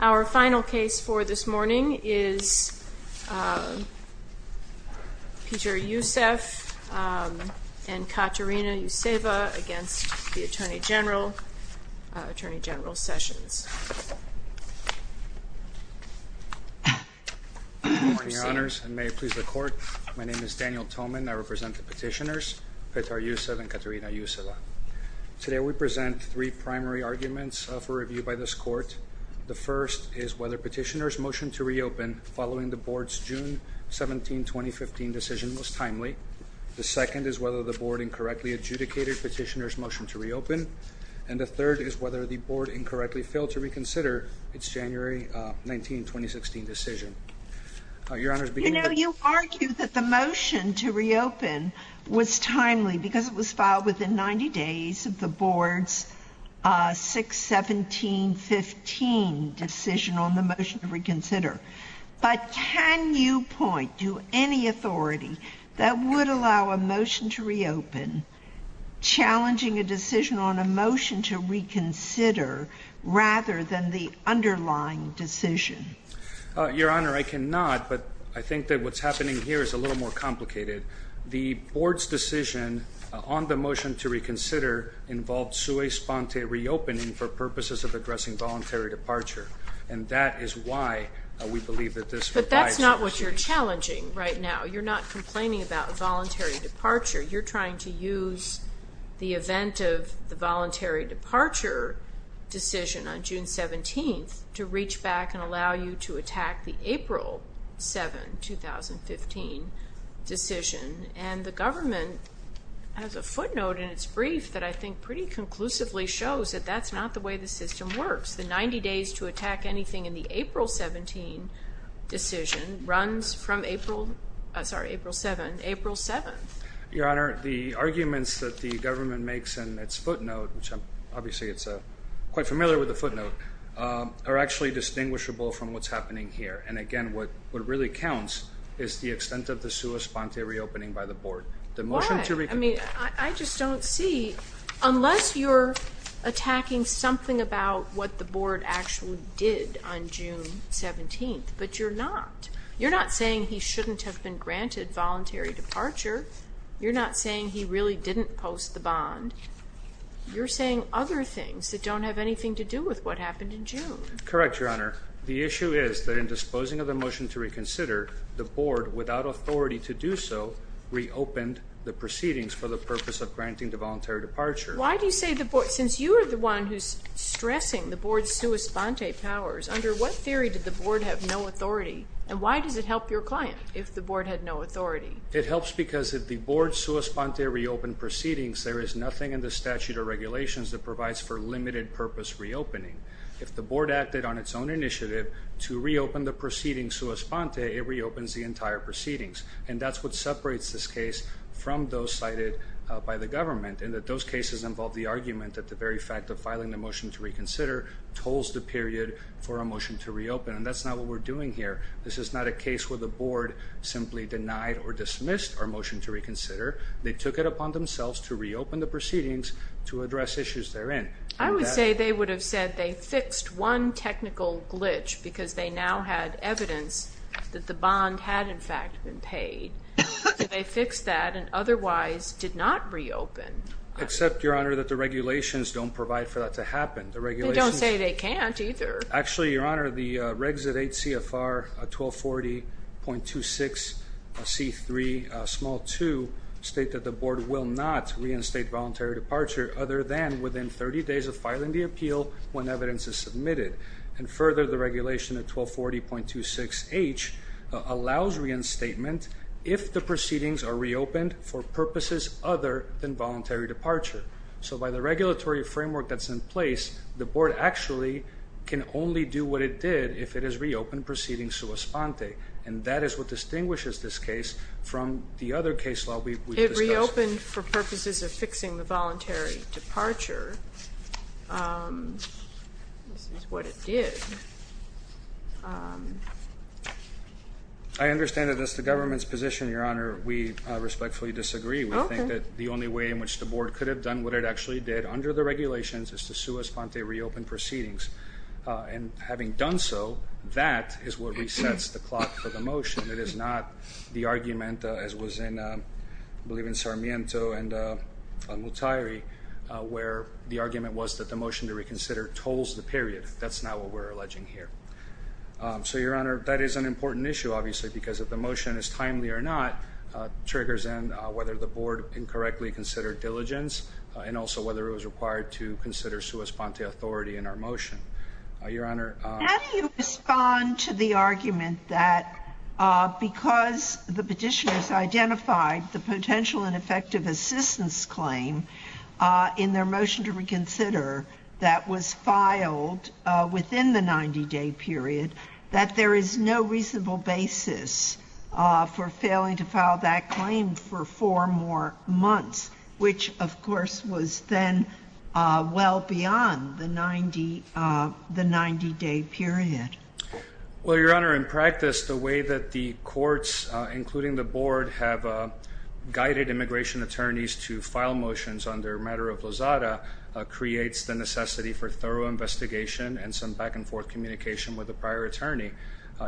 Our final case for this morning is Petar Yusev and Katerina Yuseva v. Attorney General Sessions. Good morning, Your Honors, and may it please the Court. My name is Daniel Thoman. I represent the petitioners, Petar Yusev and Katerina Yuseva. Today we present three primary arguments for review by this Court. The first is whether Petitioner's motion to reopen following the Board's June 17, 2015 decision was timely. The second is whether the Board incorrectly adjudicated Petitioner's motion to reopen. And the third is whether the Board incorrectly failed to reconsider its January 19, 2016 decision. You know, you argue that the motion to reopen was timely because it was filed within 90 days of the Board's June 17, 2015 decision on the motion to reconsider. But can you point to any authority that would allow a motion to reopen challenging a decision on a motion to reconsider rather than the underlying decision? Your Honor, I cannot, but I think that what's happening here is a little more complicated. The Board's decision on the motion to reconsider involved sui sponte reopening for purposes of addressing voluntary departure. And that is why we believe that this requires a decision. But that's not what you're challenging right now. You're not complaining about voluntary departure. You're trying to use the event of the voluntary departure decision on June 17 to reach back and allow you to attack the April 7, 2015 decision. And the government has a footnote in its brief that I think pretty conclusively shows that that's not the way the system works. The 90 days to attack anything in the April 17 decision runs from April 7. Your Honor, the arguments that the government makes in its footnote, which I'm obviously quite familiar with the footnote, are actually distinguishable from what's happening here. And again, what really counts is the extent of the sui sponte reopening by the Board. Why? I mean, I just don't see. Unless you're attacking something about what the Board actually did on June 17, but you're not. You're not saying he shouldn't have been granted voluntary departure. You're not saying he really didn't post the bond. You're saying other things that don't have anything to do with what happened in June. Correct, Your Honor. The issue is that in disposing of the motion to reconsider, the Board, without authority to do so, reopened the proceedings for the purpose of granting the voluntary departure. Why do you say the Board, since you are the one who's stressing the Board's sui sponte powers, under what theory did the Board have no authority? And why does it help your client if the Board had no authority? It helps because if the Board's sui sponte reopened proceedings, there is nothing in the statute of regulations that provides for limited purpose reopening. If the Board acted on its own initiative to reopen the proceedings sui sponte, it reopens the entire proceedings. And that's what separates this case from those cited by the government. And that those cases involve the argument that the very fact of filing the motion to reconsider tolls the period for a motion to reopen. And that's not what we're doing here. This is not a case where the Board simply denied or dismissed our motion to reconsider. They took it upon themselves to reopen the proceedings to address issues therein. I would say they would have said they fixed one technical glitch because they now had evidence that the bond had in fact been paid. They fixed that and otherwise did not reopen. Except, Your Honor, that the regulations don't provide for that to happen. They don't say they can't either. Actually, Your Honor, the regs at 8 CFR 1240.26 C3 small 2 state that the Board will not reinstate voluntary departure other than within 30 days of filing the appeal when evidence is submitted. And further, the regulation at 1240.26 H allows reinstatement if the proceedings are reopened for purposes other than voluntary departure. So by the regulatory framework that's in place, the Board actually can only do what it did if it is reopened proceeding sua sponte. And that is what distinguishes this case from the other case law we've discussed. It reopened for purposes of fixing the voluntary departure. This is what it did. I understand that that's the government's position, Your Honor. We respectfully disagree. We think that the only way in which the Board could have done what it actually did under the regulations is to sua sponte reopen proceedings. And having done so, that is what resets the clock for the motion. It is not the argument, as was in, I believe in Sarmiento and Mutairi, where the argument was that the motion to reconsider tolls the period. That's not what we're alleging here. So, Your Honor, that is an important issue, obviously, because if the motion is timely or not, triggers in whether the Board incorrectly considered diligence, and also whether it was required to consider sua sponte authority in our motion. Your Honor, how do you respond to the argument that because the petitioners identified the potential and effective assistance claim in their motion to reconsider that was filed within the 90-day period, that there is no reasonable basis for failing to file that claim for four more months, which, of course, was then well beyond the 90-day period? Well, Your Honor, in practice, the way that the courts, including the Board, have guided immigration attorneys to file motions under matter of lazada creates the necessity for thorough investigation and some back-and-forth communication with the prior attorney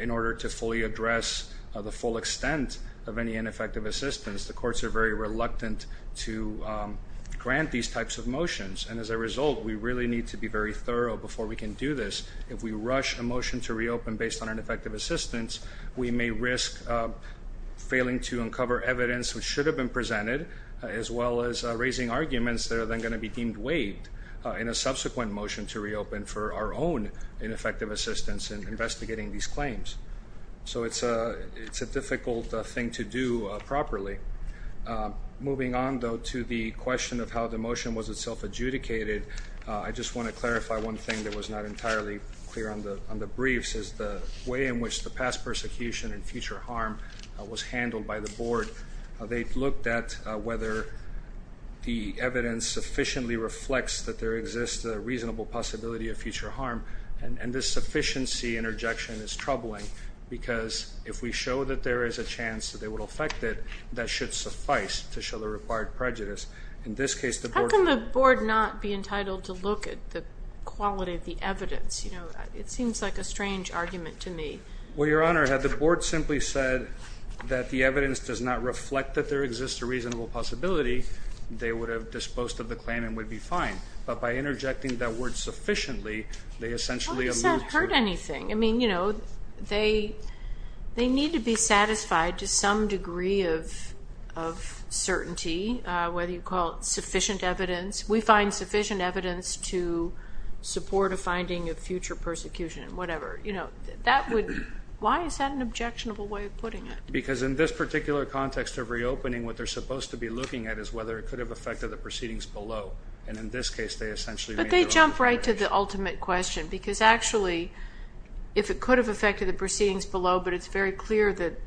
in order to fully address the full extent of any ineffective assistance. The courts are very reluctant to grant these types of motions. And as a result, we really need to be very thorough before we can do this. If we rush a motion to reopen based on ineffective assistance, we may risk failing to uncover evidence which should have been presented, as well as raising arguments that are then going to be deemed waived in a subsequent motion to reopen for our own ineffective assistance in investigating these claims. So it's a difficult thing to do properly. Moving on, though, to the question of how the motion was itself adjudicated, I just want to clarify one thing that was not entirely clear on the briefs, is the way in which the past persecution and future harm was handled by the Board. They looked at whether the evidence sufficiently reflects that there exists a reasonable possibility of future harm. And this sufficiency interjection is troubling because if we show that there is a chance that they will affect it, that should suffice to show the required prejudice. In this case, the Board... How can the Board not be entitled to look at the quality of the evidence? You know, it seems like a strange argument to me. Well, Your Honor, had the Board simply said that the evidence does not reflect that there exists a reasonable possibility, they would have disposed of the claim and would be fine. But by interjecting that word sufficiently, they essentially elude... Why does that hurt anything? I mean, you know, they need to be satisfied to some degree of certainty, whether you call it sufficient evidence. We find sufficient evidence to support a finding of future persecution, whatever. You know, that would... Why is that an objectionable way of putting it? Because in this particular context of reopening, what they're supposed to be looking at is whether it could have affected the proceedings below. And in this case, they essentially... But they jump right to the ultimate question. Because actually, if it could have affected the proceedings below, but it's very clear that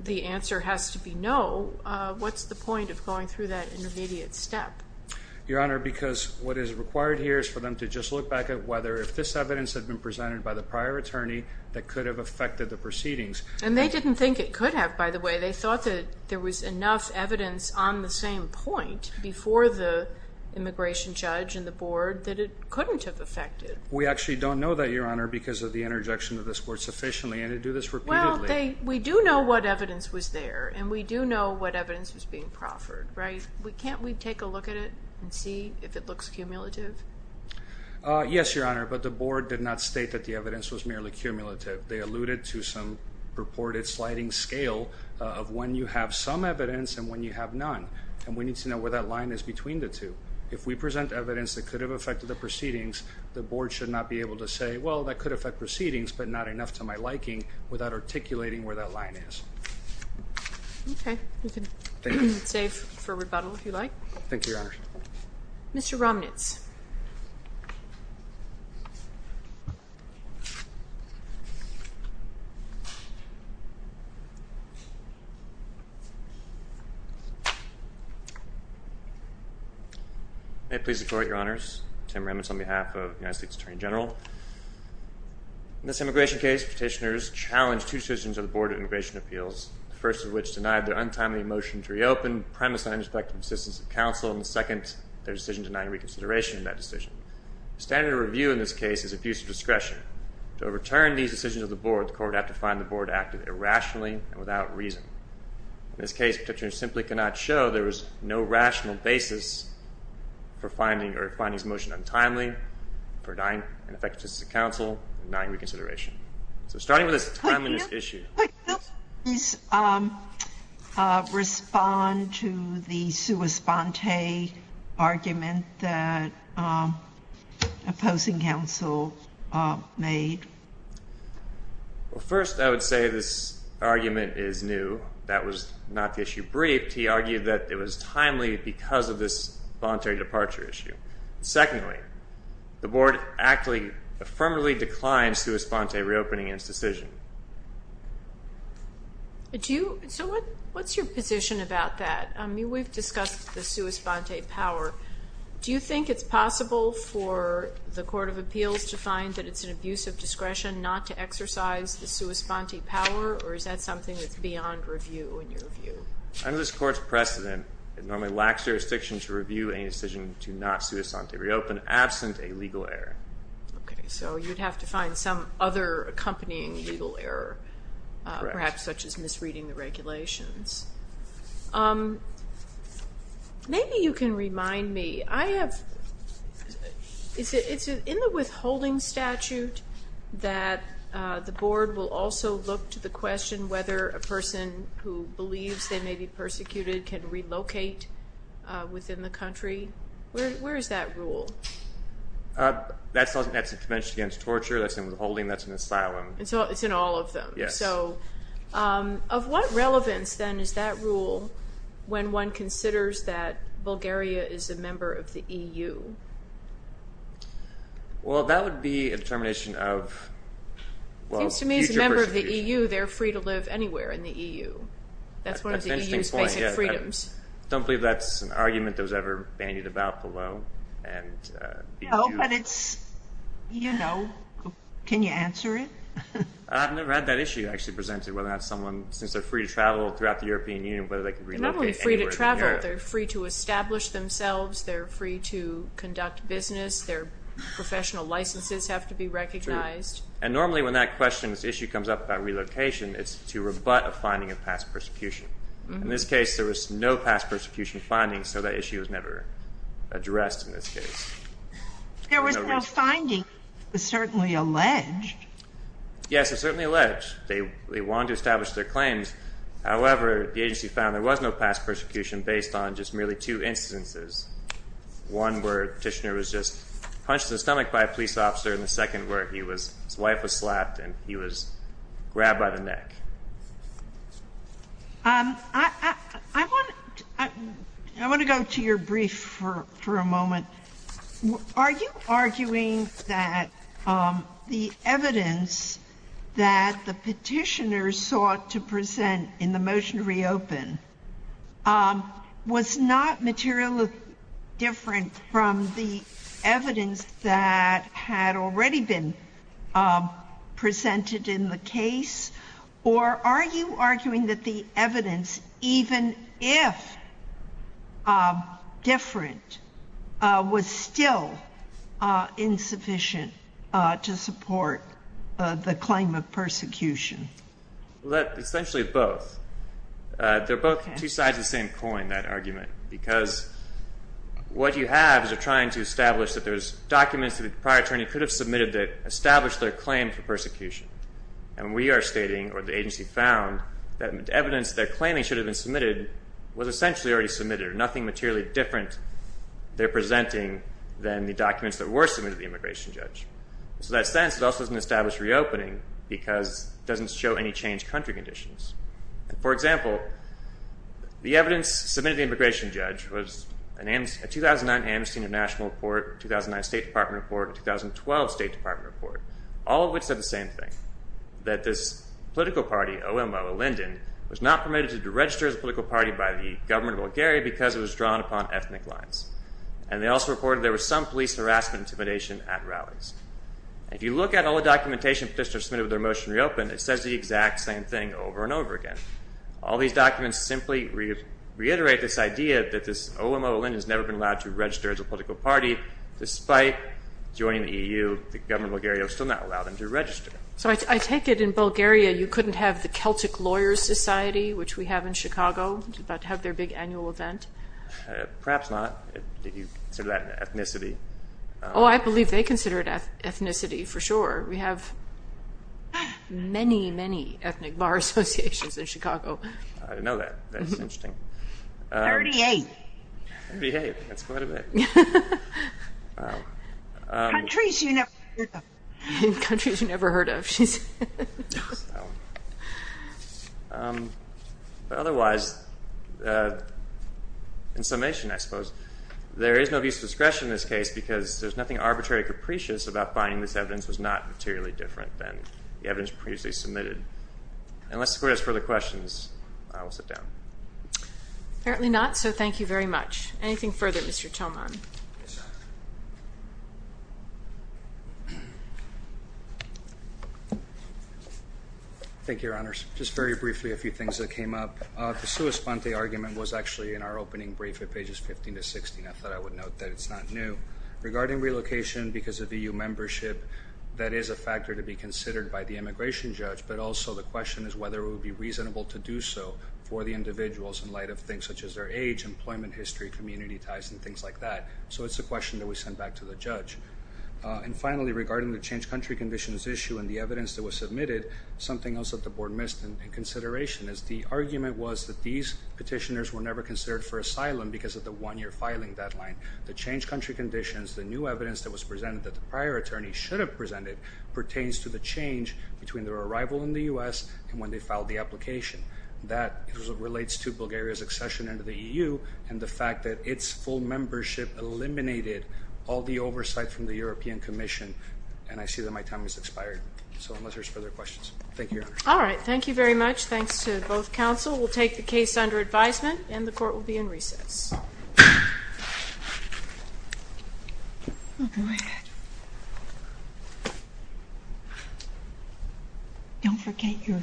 the answer has to be no, what's the point of going through that intermediate step? Your Honor, because what is required here is for them to just look back at whether, if this evidence had been presented by the prior attorney, that could have affected the proceedings. And they didn't think it could have, by the way. They thought that there was enough evidence on the same point before the immigration judge and the board that it couldn't have affected. We actually don't know that, Your Honor, because of the interjection of this Court sufficiently. And they do this repeatedly. Well, we do know what evidence was there. And we do know what evidence was being proffered, right? Can't we take a look at it and see if it looks cumulative? Yes, Your Honor. But the board did not state that the evidence was merely cumulative. They alluded to some purported sliding scale of when you have some evidence and when you have none. And we need to know where that line is between the two. If we present evidence that could have affected the proceedings, the board should not be able to say, well, that could affect proceedings, but not enough to my liking, without articulating where that line is. Okay. You can save for rebuttal, if you like. Thank you, Your Honor. Mr. Romnitz. May it please the Court, Your Honors. Tim Romnitz on behalf of the United States Attorney General. In this immigration case, petitioners challenged two decisions of the Board of Immigration Appeals, the first of which denied their untimely motion to reopen, one premised on ineffective assistance of counsel, and the second, their decision denying reconsideration of that decision. The standard of review in this case is abuse of discretion. To overturn these decisions of the Board, the Court would have to find the Board acted irrationally and without reason. In this case, petitioners simply could not show there was no rational basis for finding or finding this motion untimely, for denying ineffective assistance of counsel, and denying reconsideration. So starting with this timeliness issue. Would you please respond to the sua sponte argument that opposing counsel made? Well, first, I would say this argument is new. That was not the issue briefed. He argued that it was timely because of this voluntary departure issue. Secondly, the Board actually affirmatively declined sua sponte reopening in its decision. So what's your position about that? I mean, we've discussed the sua sponte power. Do you think it's possible for the Court of Appeals to find that it's an abuse of discretion not to exercise the sua sponte power, or is that something that's beyond review in your view? Under this Court's precedent, it normally lacks jurisdiction to review a decision to not sua sponte reopen, absent a legal error. Okay. So you'd have to find some other accompanying legal error, perhaps such as misreading the regulations. Maybe you can remind me. It's in the withholding statute that the Board will also look to the question whether a person who believes they may be persecuted can relocate within the country. Where is that rule? That's the Convention Against Torture. That's in withholding. That's in asylum. It's in all of them. Yes. Of what relevance, then, is that rule when one considers that Bulgaria is a member of the EU? Well, that would be a determination of, well, future persecution. It seems to me as a member of the EU, they're free to live anywhere in the EU. That's one of the EU's basic freedoms. That's an interesting point. I don't believe that's an argument that was ever bandied about below. No, but it's, you know, can you answer it? I've never had that issue actually presented, whether or not someone, since they're free to travel throughout the European Union, whether they can relocate anywhere in Europe. They're not only free to travel. They're free to establish themselves. They're free to conduct business. Their professional licenses have to be recognized. True. And normally when that question, this issue comes up about relocation, it's to rebut a finding of past persecution. In this case, there was no past persecution finding, so that issue was never addressed in this case. There was no finding. It was certainly alleged. Yes, it was certainly alleged. They wanted to establish their claims. However, the agency found there was no past persecution based on just merely two instances, one where the petitioner was just punched in the stomach by a police officer I want to go to your brief for a moment. Are you arguing that the evidence that the petitioner sought to present in the motion to reopen was not materially different from the evidence that had already been presented in the case? Or are you arguing that the evidence, even if different, was still insufficient to support the claim of persecution? Essentially both. They're both two sides of the same coin, that argument, because what you have is you're trying to establish that there's documents that the prior attorney could have submitted that established their claim for persecution. And we are stating, or the agency found, that the evidence that they're claiming should have been submitted was essentially already submitted. There's nothing materially different they're presenting than the documents that were submitted to the immigration judge. So in that sense, it also doesn't establish reopening because it doesn't show any changed country conditions. For example, the evidence submitted to the immigration judge was a 2009 Amnesty International report, 2009 State Department report, and 2012 State Department report, all of which said the same thing, that this political party, OMO, Alinden, was not permitted to register as a political party by the government of Bulgaria because it was drawn upon ethnic lines. And they also reported there was some police harassment intimidation at rallies. If you look at all the documentation petitioners submitted with their motion to reopen, it says the exact same thing over and over again. All these documents simply reiterate this idea that this OMO Alinden has never been allowed to register as a political party despite joining the EU. The government of Bulgaria will still not allow them to register. So I take it in Bulgaria you couldn't have the Celtic Lawyers Society, which we have in Chicago, which is about to have their big annual event? Perhaps not. Do you consider that ethnicity? Oh, I believe they consider it ethnicity for sure. We have many, many ethnic bar associations in Chicago. I didn't know that. That's interesting. Thirty-eight. Thirty-eight, that's quite a bit. Wow. Countries you never heard of. Countries you never heard of. Otherwise, in summation I suppose, there is no use of discretion in this case because there's nothing arbitrary or capricious about finding this evidence was not materially different than the evidence previously submitted. Unless the Court has further questions, I will sit down. Apparently not, so thank you very much. Anything further, Mr. Tillman? Thank you, Your Honors. Just very briefly a few things that came up. The sua sponte argument was actually in our opening brief at pages 15 to 16. I thought I would note that it's not new. Regarding relocation because of EU membership, that is a factor to be considered by the immigration judge, but also the question is whether it would be reasonable to do so for the individuals in light of things such as their age, employment history, community ties, and things like that. So it's a question that we send back to the judge. And finally, regarding the changed country conditions issue and the evidence that was submitted, something else that the Board missed in consideration is the argument was that these petitioners were never considered for asylum because of the one-year filing deadline. The changed country conditions, the new evidence that was presented that the prior attorney should have when they filed the application. That relates to Bulgaria's accession into the EU and the fact that its full membership eliminated all the oversight from the European Commission. And I see that my time has expired. So unless there's further questions. Thank you, Your Honor. All right. Thank you very much. Thanks to both counsel. We'll take the case under advisement and the court will be in recess. I'll go ahead. Don't forget your. Okay. Okay. Okay.